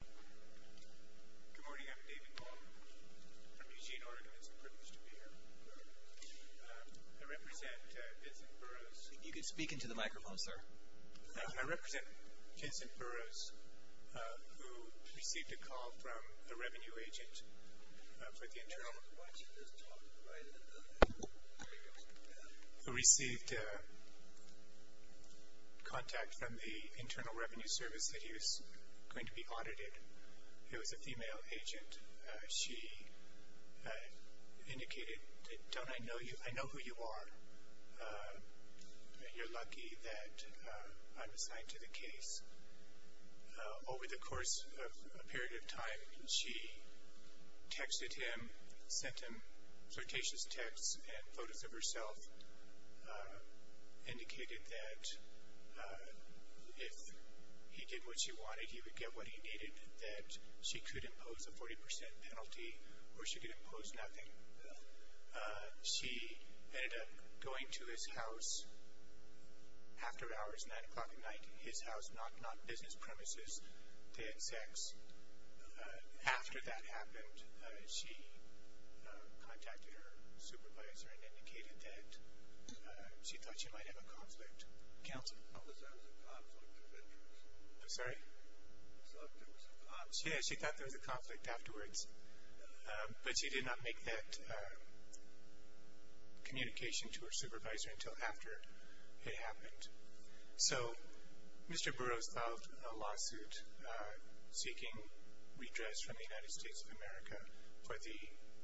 Good morning. I'm David Long from Eugene, Oregon. It's a privilege to be here. I represent Vincent Burroughs. You can speak into the microphone, sir. I represent Vincent Burroughs, who received a call from a revenue agent for the internal... Why don't you just talk to the right end of the... who received contact from the internal revenue service that he was going to be audited. It was a female agent. She indicated, Don't I know you? I know who you are. You're lucky that I'm assigned to the case. Over the course of a period of time, she texted him, sent him flirtatious texts and photos of herself, indicated that if he did what she wanted, he would get what he needed, that she could impose a 40% penalty or she could impose nothing. She ended up going to his house after hours, 9 o'clock at night, his house, not business premises. They had sex. After that happened, she contacted her supervisor and indicated that she thought she might have a conflict. Counsel? I thought there was a conflict. I'm sorry? I thought there was a conflict. Yeah, she thought there was a conflict afterwards, but she did not make that communication to her supervisor until after it happened. So Mr. Burroughs filed a lawsuit seeking redress from the United States of America for the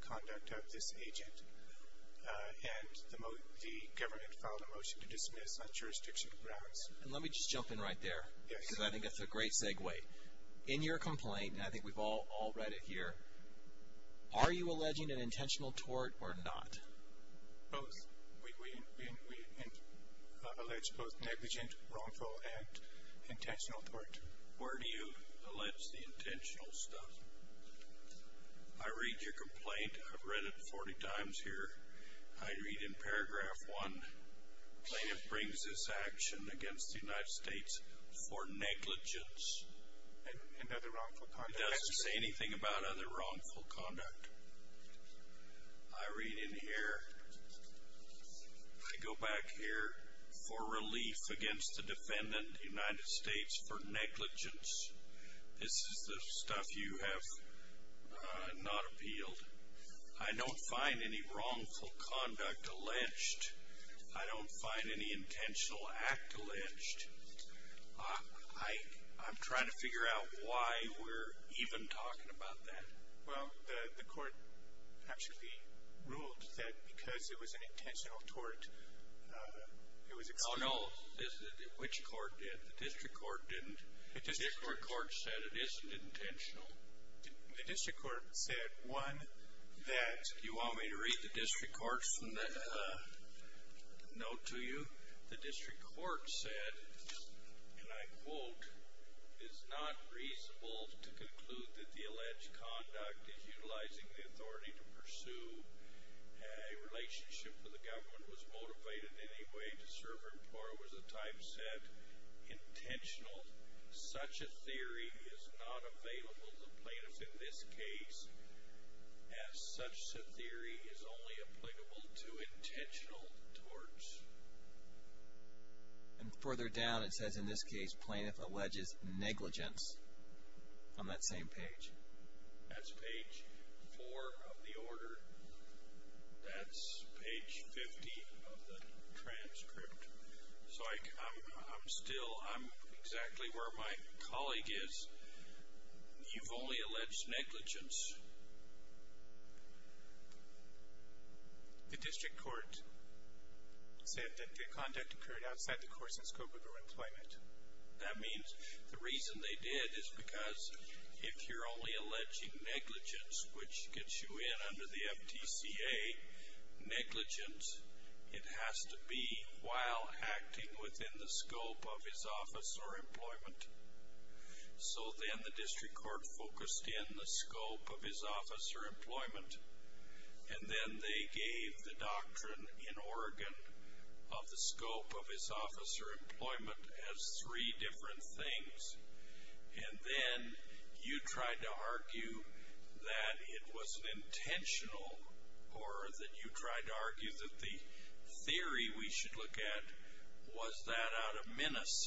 conduct of this agent, and the government filed a motion to dismiss on jurisdiction grounds. Let me just jump in right there because I think that's a great segue. In your complaint, and I think we've all read it here, are you alleging an intentional tort or not? Both. We allege both negligent, wrongful, and intentional tort. Where do you allege the intentional stuff? I read your complaint. I've read it 40 times here. I read in paragraph 1, plaintiff brings this action against the United States for negligence. And other wrongful conduct. It doesn't say anything about other wrongful conduct. I read in here, I go back here, for relief against the defendant, the United States, for negligence. This is the stuff you have not appealed. I don't find any wrongful conduct alleged. I don't find any intentional act alleged. I'm trying to figure out why we're even talking about that. Well, the court actually ruled that because it was an intentional tort, it was excluded. Oh, no. Which court did? The district court didn't. The district court said it isn't intentional. The district court said, one, that you want me to read the district court's note to you? The district court said, and I quote, it's not reasonable to conclude that the alleged conduct is utilizing the authority to pursue a relationship where the government was motivated in any way to serve or was a time set intentional. Such a theory is not available to plaintiffs in this case, as such a theory is only applicable to intentional torts. And further down, it says in this case, plaintiff alleges negligence on that same page. That's page four of the order. That's page 50 of the transcript. So I'm still, I'm exactly where my colleague is. You've only alleged negligence. The district court said that the conduct occurred outside the course and scope of your employment. That means the reason they did is because if you're only alleging negligence, which gets you in under the FTCA, negligence, it has to be while acting within the scope of his office or employment. So then the district court focused in the scope of his office or employment. And then they gave the doctrine in Oregon of the scope of his office or employment as three different things. And then you tried to argue that it was an intentional or that you tried to argue that the theory we should look at was that out of menace.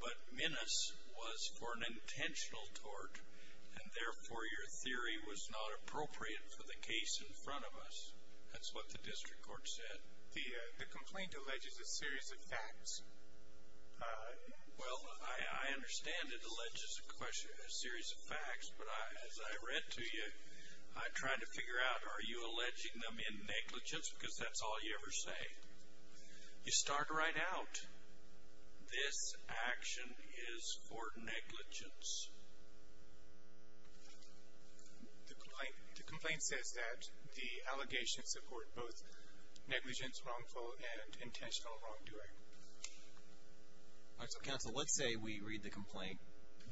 But menace was for an intentional tort, and therefore your theory was not appropriate for the case in front of us. That's what the district court said. The complaint alleges a series of facts. Well, I understand it alleges a series of facts, but as I read to you, I tried to figure out, are you alleging them in negligence because that's all you ever say? You start right out. This action is for negligence. The complaint says that the allegations support both negligence, wrongful, and intentional wrongdoing. All right, so counsel, let's say we read the complaint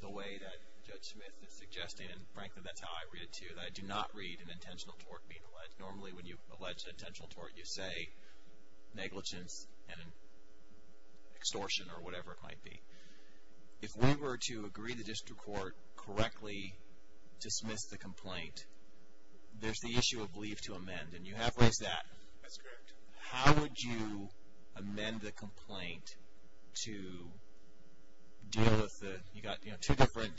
the way that Judge Smith is suggesting, and frankly, that's how I read it to you, that I do not read an intentional tort being alleged. Normally when you allege an intentional tort, you say negligence and extortion or whatever it might be. If we were to agree to the district court correctly dismiss the complaint, there's the issue of leave to amend, and you have raised that. That's correct. How would you amend the complaint to deal with the, you know, two different,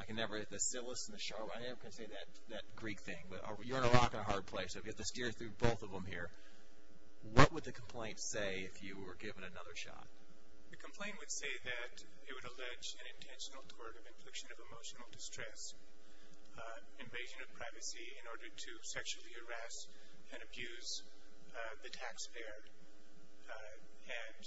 I can never, the syllabus and the sharp, I'm never going to say that Greek thing, but you're on a rock and a hard place. I've got to steer through both of them here. What would the complaint say if you were given another shot? The complaint would say that it would allege an intentional tort of infliction of emotional distress, invasion of privacy in order to sexually harass and abuse the taxpayer, and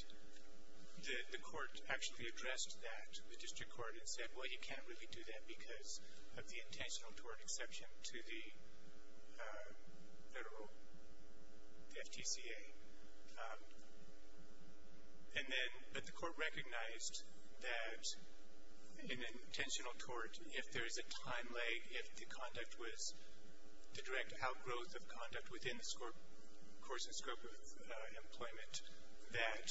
the court actually addressed that to the district court and said, well, you can't really do that because of the intentional tort exception to the federal, the FTCA. And then, but the court recognized that an intentional tort, if there is a time lag, if the conduct was the direct outgrowth of conduct within the court's scope of employment, that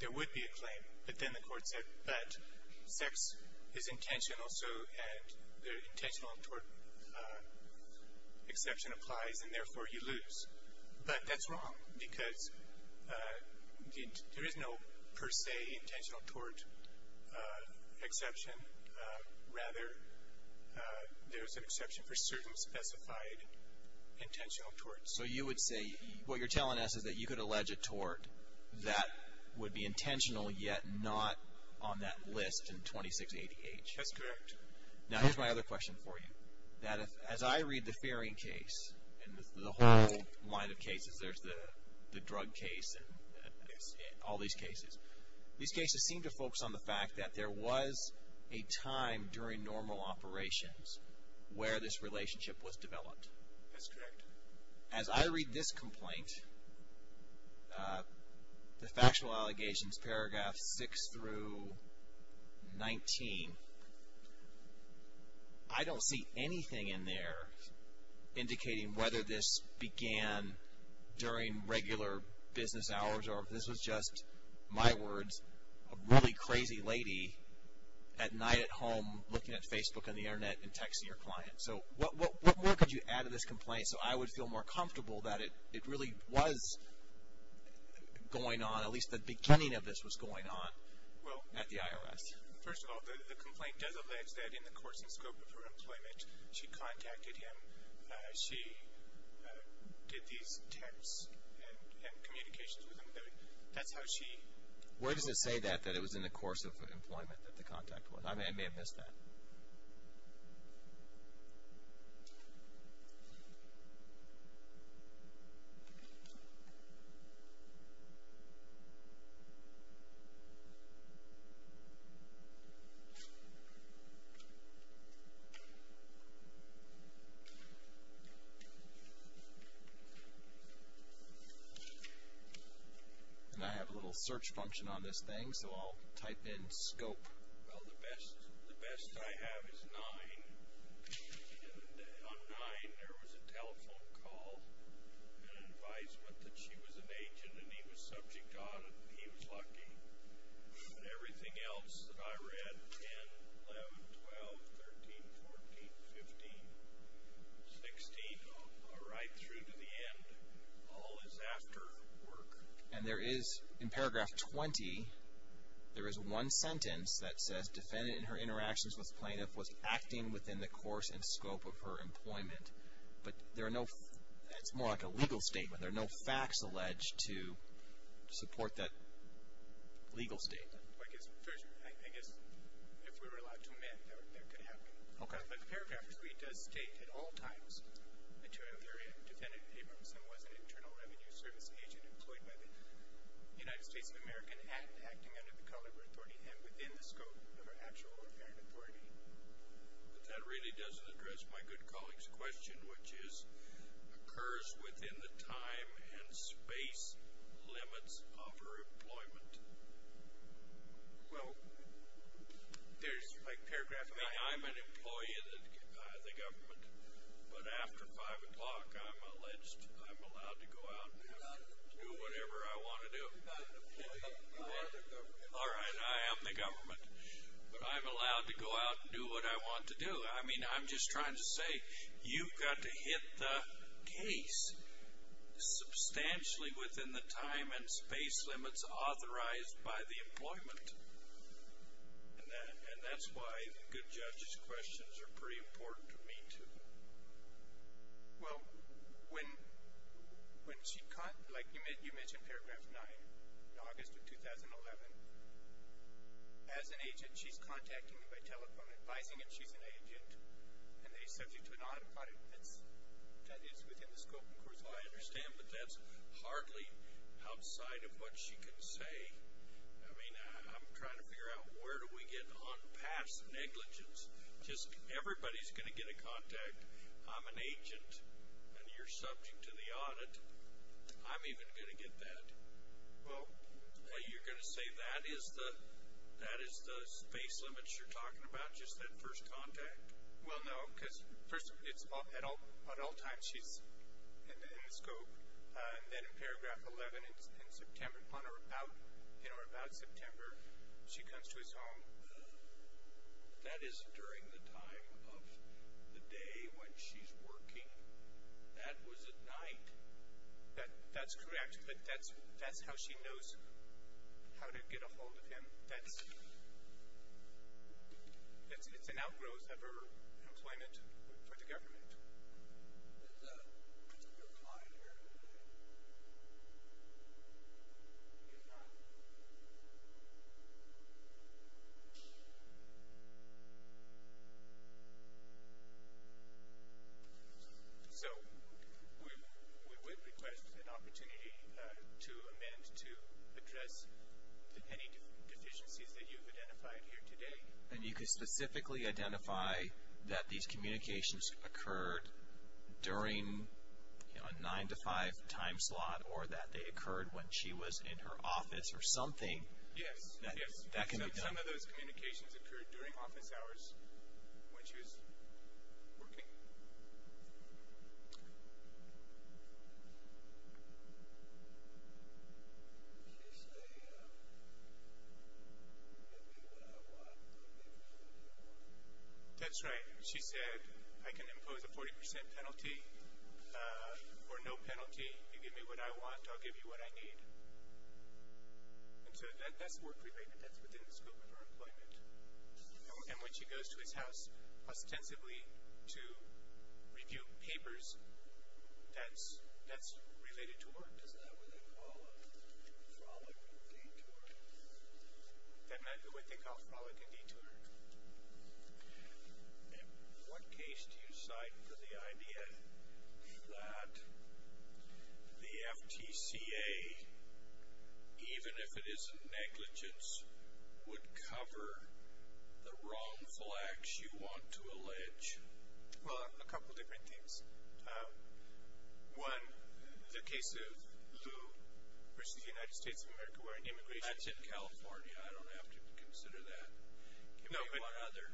there would be a claim. But then the court said, but sex is intentional, so the intentional tort exception applies, and therefore you lose. But that's wrong because there is no per se intentional tort exception. Rather, there's an exception for certain specified intentional torts. So you would say, what you're telling us is that you could allege a tort that would be intentional yet not on that list in 2688. That's correct. Now, here's my other question for you. That if, as I read the faring case and the whole line of cases, there's the drug case and all these cases, these cases seem to focus on the fact that there was a time during normal operations where this relationship was developed. That's correct. Now, as I read this complaint, the factual allegations, paragraph 6 through 19, I don't see anything in there indicating whether this began during regular business hours or if this was just, my words, a really crazy lady at night at home looking at Facebook on the Internet and texting your client. So what could you add to this complaint so I would feel more comfortable that it really was going on, at least the beginning of this was going on at the IRS? First of all, the complaint does allege that in the course and scope of her employment, she contacted him. She did these texts and communications with him. That's how she. Where does it say that, that it was in the course of employment that the contact was? I may have missed that. I have a little search function on this thing, so I'll type in scope. Well, the best I have is 9. On 9, there was a telephone call, an advisement that she was an agent and he was subject on it. He was lucky. Everything else that I read, 10, 11, 12, 13, 14, 15, 16, right through to the end, all is after work. And there is, in paragraph 20, there is one sentence that says, defendant in her interactions with plaintiff was acting within the course and scope of her employment. But there are no, it's more like a legal statement. There are no facts alleged to support that legal statement. I guess if we were allowed to amend, that could happen. Okay. But paragraph 3 does state at all times, defendant Abramson was an internal revenue service agent employed by the United States of America and acting under the color of her authority and within the scope of her actual or apparent authority. But that really doesn't address my good colleague's question, which is, occurs within the time and space limits of her employment. Well, there's, like, paragraph, I mean, I'm an employee of the government. But after 5 o'clock, I'm allowed to go out and do whatever I want to do. All right, I am the government. But I'm allowed to go out and do what I want to do. I mean, I'm just trying to say, you've got to hit the case substantially within the time and space limits authorized by the employment. And that's why the good judge's questions are pretty important to me, too. Well, when she, like you mentioned paragraph 9, in August of 2011, as an agent, she's contacting me by telephone, advising me she's an agent, and they subject to an audit. That is within the scope and course of her authority. Well, I understand, but that's hardly outside of what she can say. I mean, I'm trying to figure out where do we get on past negligence. Just everybody's going to get a contact. I'm an agent, and you're subject to the audit. I'm even going to get that. Well, you're going to say that is the space limits you're talking about, just that first contact? Well, no, because, first of all, at all times, she's in the scope. And then in paragraph 11, in September, on or about September, she comes to his home. That is during the time of the day when she's working. That was at night. That's correct, but that's how she knows how to get a hold of him. It's an outgrowth of her employment for the government. Is there a client here today? Yes, sir. So we would request an opportunity to amend to address any deficiencies that you've identified here today. And you can specifically identify that these communications occurred during a nine-to-five time slot or that they occurred when she was in her office or something? Yes, some of those communications occurred during office hours when she was working. Did she say, give me what I want, I'll give you what I want? That's right. She said, I can impose a 40% penalty or no penalty. You give me what I want, I'll give you what I need. And so that's work-related. That's within the scope of her employment. And when she goes to his house ostensibly to review papers, that's related to work. Is that what they call a frolic and detour? That's what they call a frolic and detour. And what case do you cite for the idea that the FTCA, even if it isn't negligence, would cover the wrongful acts you want to allege? Well, a couple of different things. One, the case of who pursues the United States of America, where immigration… That's in California. I don't have to consider that. Give me one other.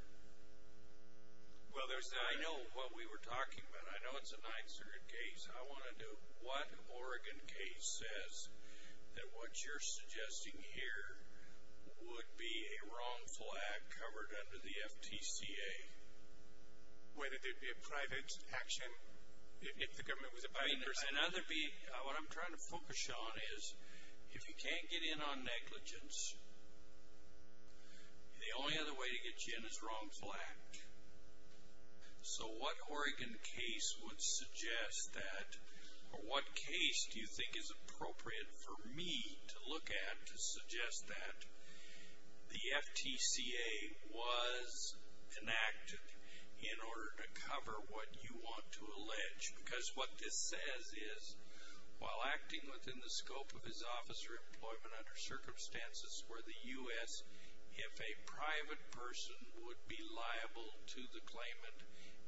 I know what we were talking about. I know it's a Ninth Circuit case. I want to know what Oregon case says that what you're suggesting here would be a wrongful act covered under the FTCA. Whether there'd be a private action if the government was… What I'm trying to focus on is if you can't get in on negligence, the only other way to get you in is wrongful act. So what Oregon case would suggest that, or what case do you think is appropriate for me to look at to suggest that the FTCA was enacted in order to cover what you want to allege? Because what this says is, while acting within the scope of his office or employment under circumstances where the U.S., if a private person would be liable to the claimant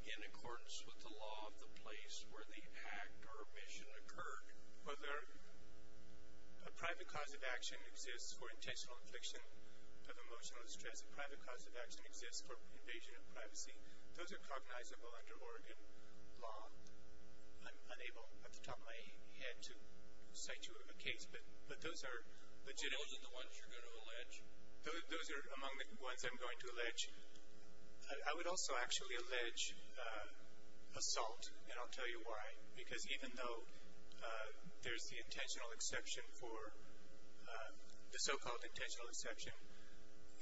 in accordance with the law of the place where the act or omission occurred. Whether a private cause of action exists for intentional affliction of emotional distress, a private cause of action exists for invasion of privacy. Those are cognizable under Oregon law. I'm unable at the top of my head to cite you a case, but those are legitimate. Those are the ones you're going to allege? Those are among the ones I'm going to allege. I would also actually allege assault, and I'll tell you why. Because even though there's the intentional exception for the so-called intentional exception,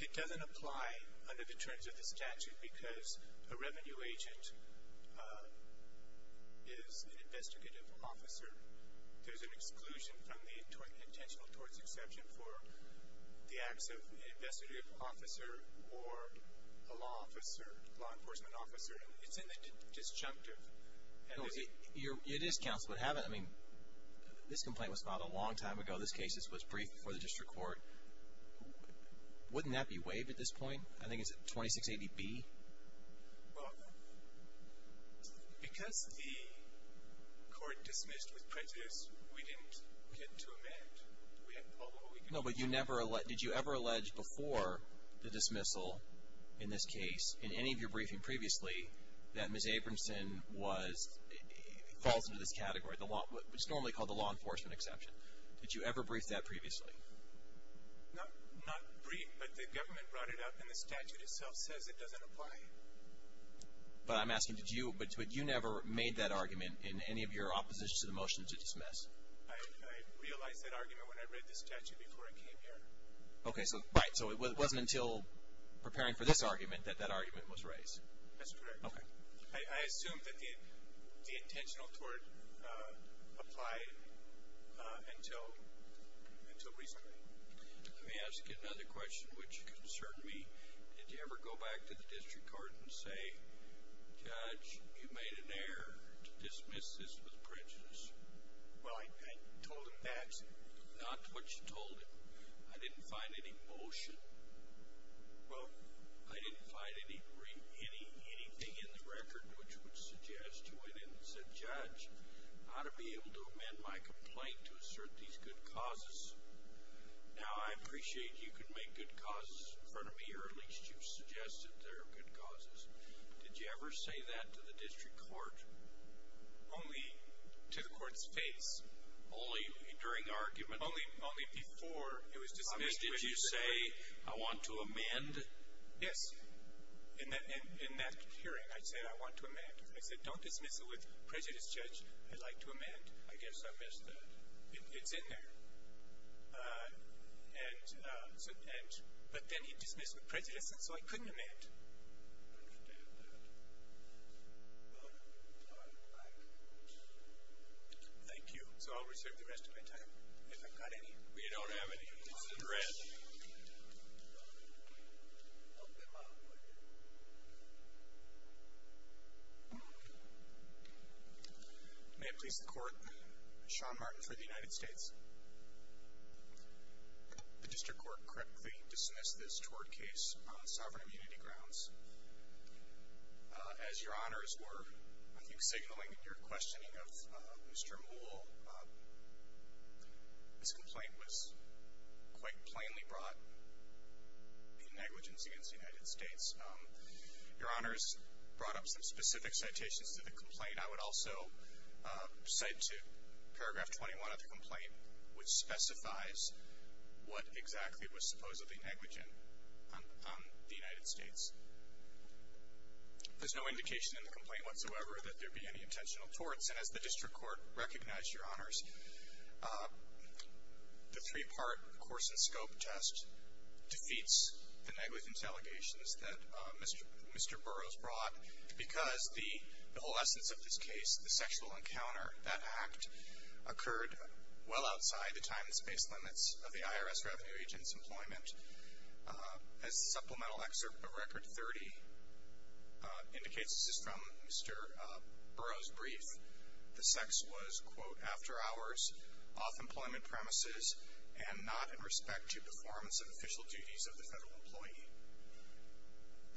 it doesn't apply under the terms of the statute because a revenue agent is an investigative officer. There's an exclusion from the intentional towards exception for the acts of investigative officer or a law officer, law enforcement officer. It's in the disjunctive. It is, counsel, but haven't, I mean, this complaint was filed a long time ago. This case was briefed before the district court. Wouldn't that be waived at this point? I think it's 2680B. Well, because the court dismissed with prejudice, we didn't get to amend. No, but did you ever allege before the dismissal in this case, in any of your briefing previously, that Ms. Abramson falls into this category, what's normally called the law enforcement exception? Did you ever brief that previously? Not brief, but the government brought it up, and the statute itself says it doesn't apply. But I'm asking, but you never made that argument in any of your oppositions to the motion to dismiss? I realized that argument when I read the statute before I came here. Okay, so it wasn't until preparing for this argument that that argument was raised? That's correct. Okay. I assume that the intentional tort applied until recently. Let me ask you another question, which concerned me. Did you ever go back to the district court and say, Judge, you made an error to dismiss this with prejudice? Well, I told them that. Not what you told them. I didn't find any motion. Well, I didn't find anything in the record which would suggest you went in and said, Judge, I ought to be able to amend my complaint to assert these good causes. Now, I appreciate you can make good causes in front of me, or at least you've suggested there are good causes. Did you ever say that to the district court? Only to the court's face. Only during argument? Only before it was dismissed. Did you say, I want to amend? Yes. In that hearing, I said, I want to amend. I said, don't dismiss it with prejudice, Judge. I'd like to amend. I guess I missed that. It's in there. But then he dismissed it with prejudice, and so I couldn't amend. I understand that. Well, I'm glad. Thank you. So I'll reserve the rest of my time if I've got any. We don't have any. This is a threat. May it please the Court, Sean Martin for the United States. The district court correctly dismissed this tort case on sovereign immunity grounds. As your honors were, I think, signaling your questioning of Mr. Moule, this complaint was quite plainly brought in negligence against the United States. Your honors brought up some specific citations to the complaint. I would also cite to paragraph 21 of the complaint, which specifies what exactly was supposedly negligent on the United States. There's no indication in the complaint whatsoever that there be any intentional torts. And as the district court recognized, your honors, the three-part course and scope test defeats the negligence allegations that Mr. Burroughs brought because the whole essence of this case, the sexual encounter, that act occurred well outside the time and space limits of the IRS revenue agent's employment. As the supplemental excerpt of Record 30 indicates, this is from Mr. Burroughs' brief, the sex was, quote, after hours, off employment premises, and not in respect to performance of official duties of the federal employee.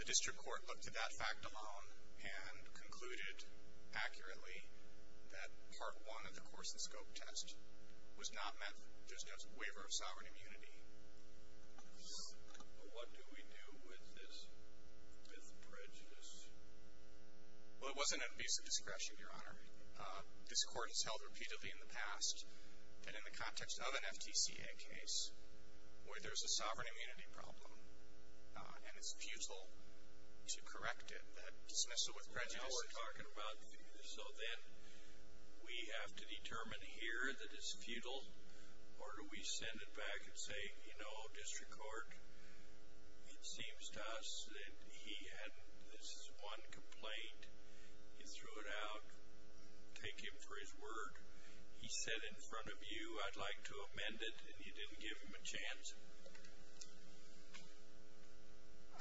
The district court looked at that fact alone and concluded accurately that part one of the course and scope test was not meant just as a waiver of sovereign immunity. But what do we do with this prejudice? Well, it wasn't an abuse of discretion, your honor. This court has held repeatedly in the past that in the context of an FTCA case where there's a sovereign immunity problem and it's futile to correct it, dismiss it with prejudice. So then we have to determine here that it's futile, or do we send it back and say, you know, district court, it seems to us that he had this one complaint. You threw it out. Take him for his word. He said in front of you, I'd like to amend it, and you didn't give him a chance?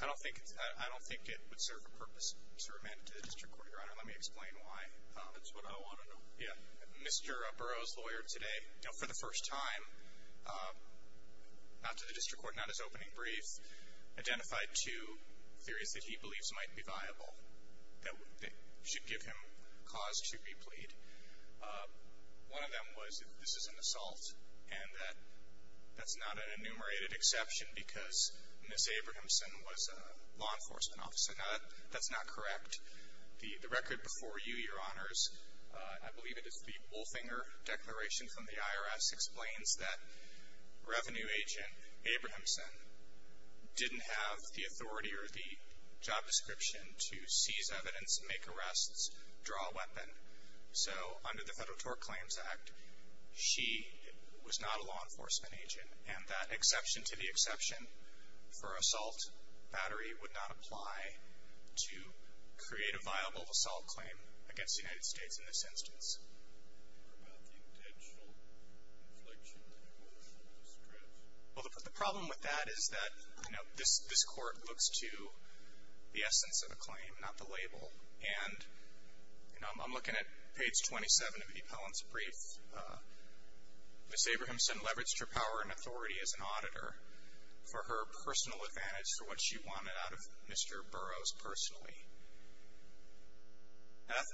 I don't think it would serve a purpose to amend it to the district court, your honor. Let me explain why. That's what I want to know. Yeah. Mr. Burroughs' lawyer today, you know, for the first time, not to the district court, not his opening brief, identified two theories that he believes might be viable that should give him cause to be plead. One of them was that this is an assault and that that's not an enumerated exception because Ms. Abrahamson was a law enforcement officer. Now, that's not correct. The record before you, your honors, I believe it is the Wolfinger Declaration from the IRS, explains that revenue agent Abrahamson didn't have the authority or the job description to seize evidence, make arrests, draw a weapon. So under the Federal Tort Claims Act, she was not a law enforcement agent, and that exception to the exception for assault battery would not apply to create a viable assault claim against the United States in this instance. What about the intentional inflection in the court's discretion? Well, the problem with that is that, you know, this court looks to the essence of a claim, not the label. And, you know, I'm looking at page 27 of the appellant's brief. Ms. Abrahamson leveraged her power and authority as an auditor for her personal advantage for what she wanted out of Mr. Burroughs personally. Now,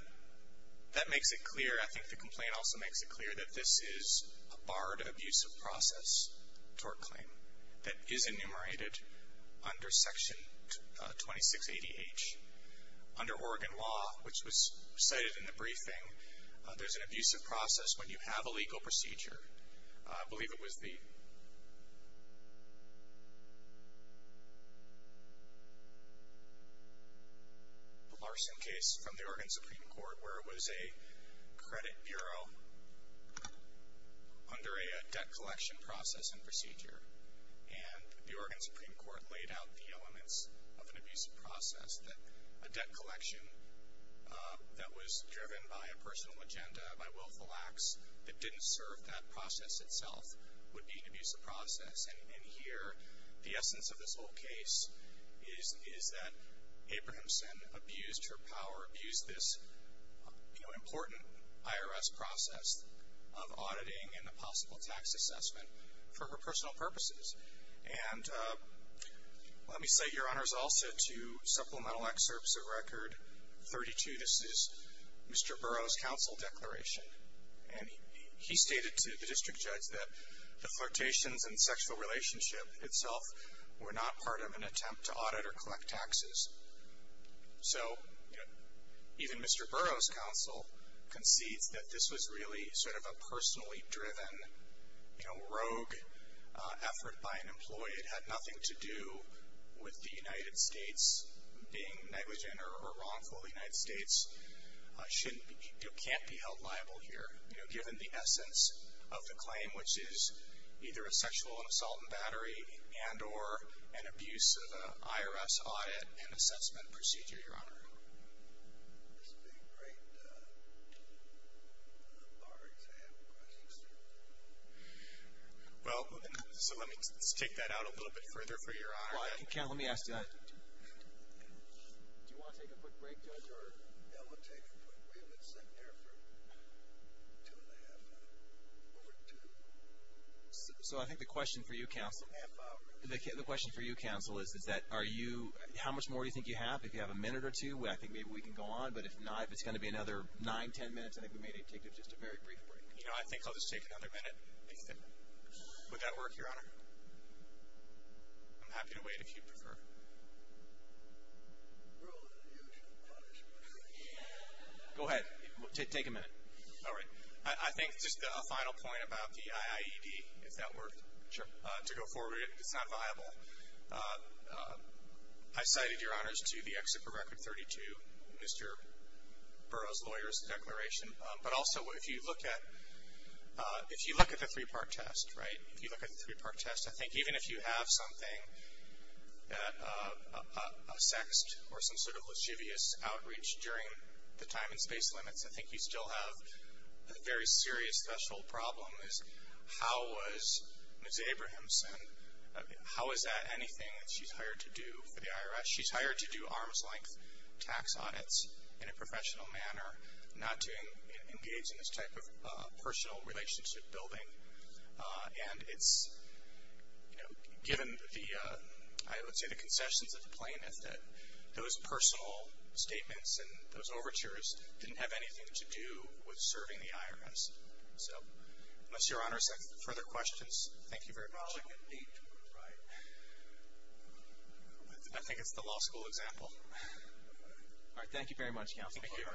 that makes it clear, I think the complaint also makes it clear, that this is a barred abusive process tort claim that is enumerated under Section 2680H. Under Oregon law, which was cited in the briefing, there's an abusive process when you have a legal procedure. I believe it was the Larson case from the Oregon Supreme Court where it was a credit bureau under a debt collection process and procedure. And the Oregon Supreme Court laid out the elements of an abusive process, a debt collection that was driven by a personal agenda, by willful acts, that didn't serve that process itself would be an abusive process. And here, the essence of this whole case is that Abrahamson abused her power, abused this, you know, important IRS process of auditing and the possible tax assessment for her personal purposes. And let me cite your honors also to supplemental excerpts of Record 32. This is Mr. Burroughs' counsel declaration. And he stated to the district judge that the flirtations and sexual relationship itself were not part of an attempt to audit or collect taxes. So, you know, even Mr. Burroughs' counsel concedes that this was really sort of a personally driven, you know, rogue effort by an employee. It had nothing to do with the United States being negligent or wrongful. The United States shouldn't be, you know, can't be held liable here, you know, given the essence of the claim, which is either a sexual assault and battery and or an abusive IRS audit and assessment procedure, your honor. This would be a great bar exam question, sir. Well, so let me take that out a little bit further for your honor. Well, counsel, let me ask you that. Do you want to take a quick break, Judge? Yeah, we'll take a quick break. We've been sitting here for two and a half, over two. So I think the question for you, counsel. Two and a half hours. The question for you, counsel, is that are you, how much more do you think you have? If you have a minute or two, I think maybe we can go on. But if not, if it's going to be another nine, ten minutes, I think we may need to take just a very brief break. You know, I think I'll just take another minute. Would that work, your honor? I'm happy to wait if you prefer. Go ahead. Take a minute. All right. I think just a final point about the IIED, if that worked. Sure. To go forward, it's not viable. I cited, your honors, to the Exit for Record 32, Mr. Burroughs' lawyer's declaration. But also, if you look at the three-part test, right, if you look at the three-part test, I think even if you have something, a sext or some sort of lascivious outreach during the time and space limits, I think you still have a very serious, special problem. How was Ms. Abrahamson, how is that anything that she's hired to do for the IRS? She's hired to do arm's-length tax audits in a professional manner, not to engage in this type of personal relationship building. And it's, you know, given the, I would say the concessions of the plaintiff, that those personal statements and those overtures didn't have anything to do with serving the IRS. So, unless your honors have further questions, thank you very much. I think it's the law school example. All right. Thank you very much, counsel. Thank you. I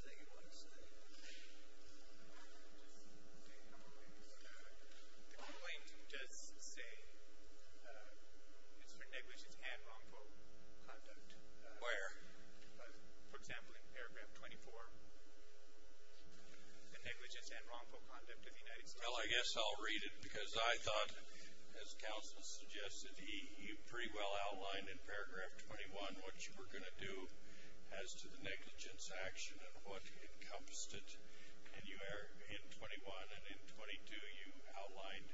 think it works. The complaint does say it's for negligence and wrongful conduct. Where? For example, in paragraph 24, the negligence and wrongful conduct of the United States. Well, I guess I'll read it because I thought, as counsel suggested, he pretty well outlined in paragraph 21 what you were going to do as to the negligence action and what encompassed it in 21. And in 22, you outlined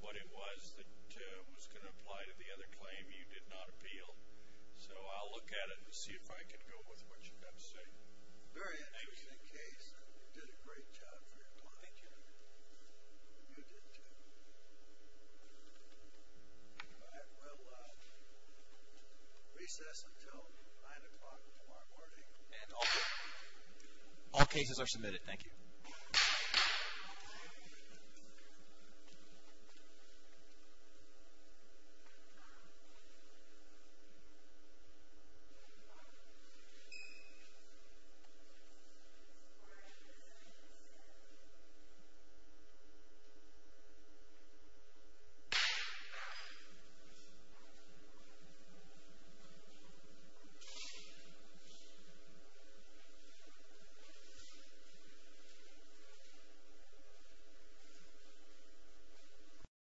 what it was that was going to apply to the other claim you did not appeal. So, I'll look at it and see if I can go with what you've got to say. Very interesting case. You did a great job for your client. Thank you. You did too. All right. Well, recess until 9 o'clock tomorrow morning. And all cases are submitted. Thank you. Thank you.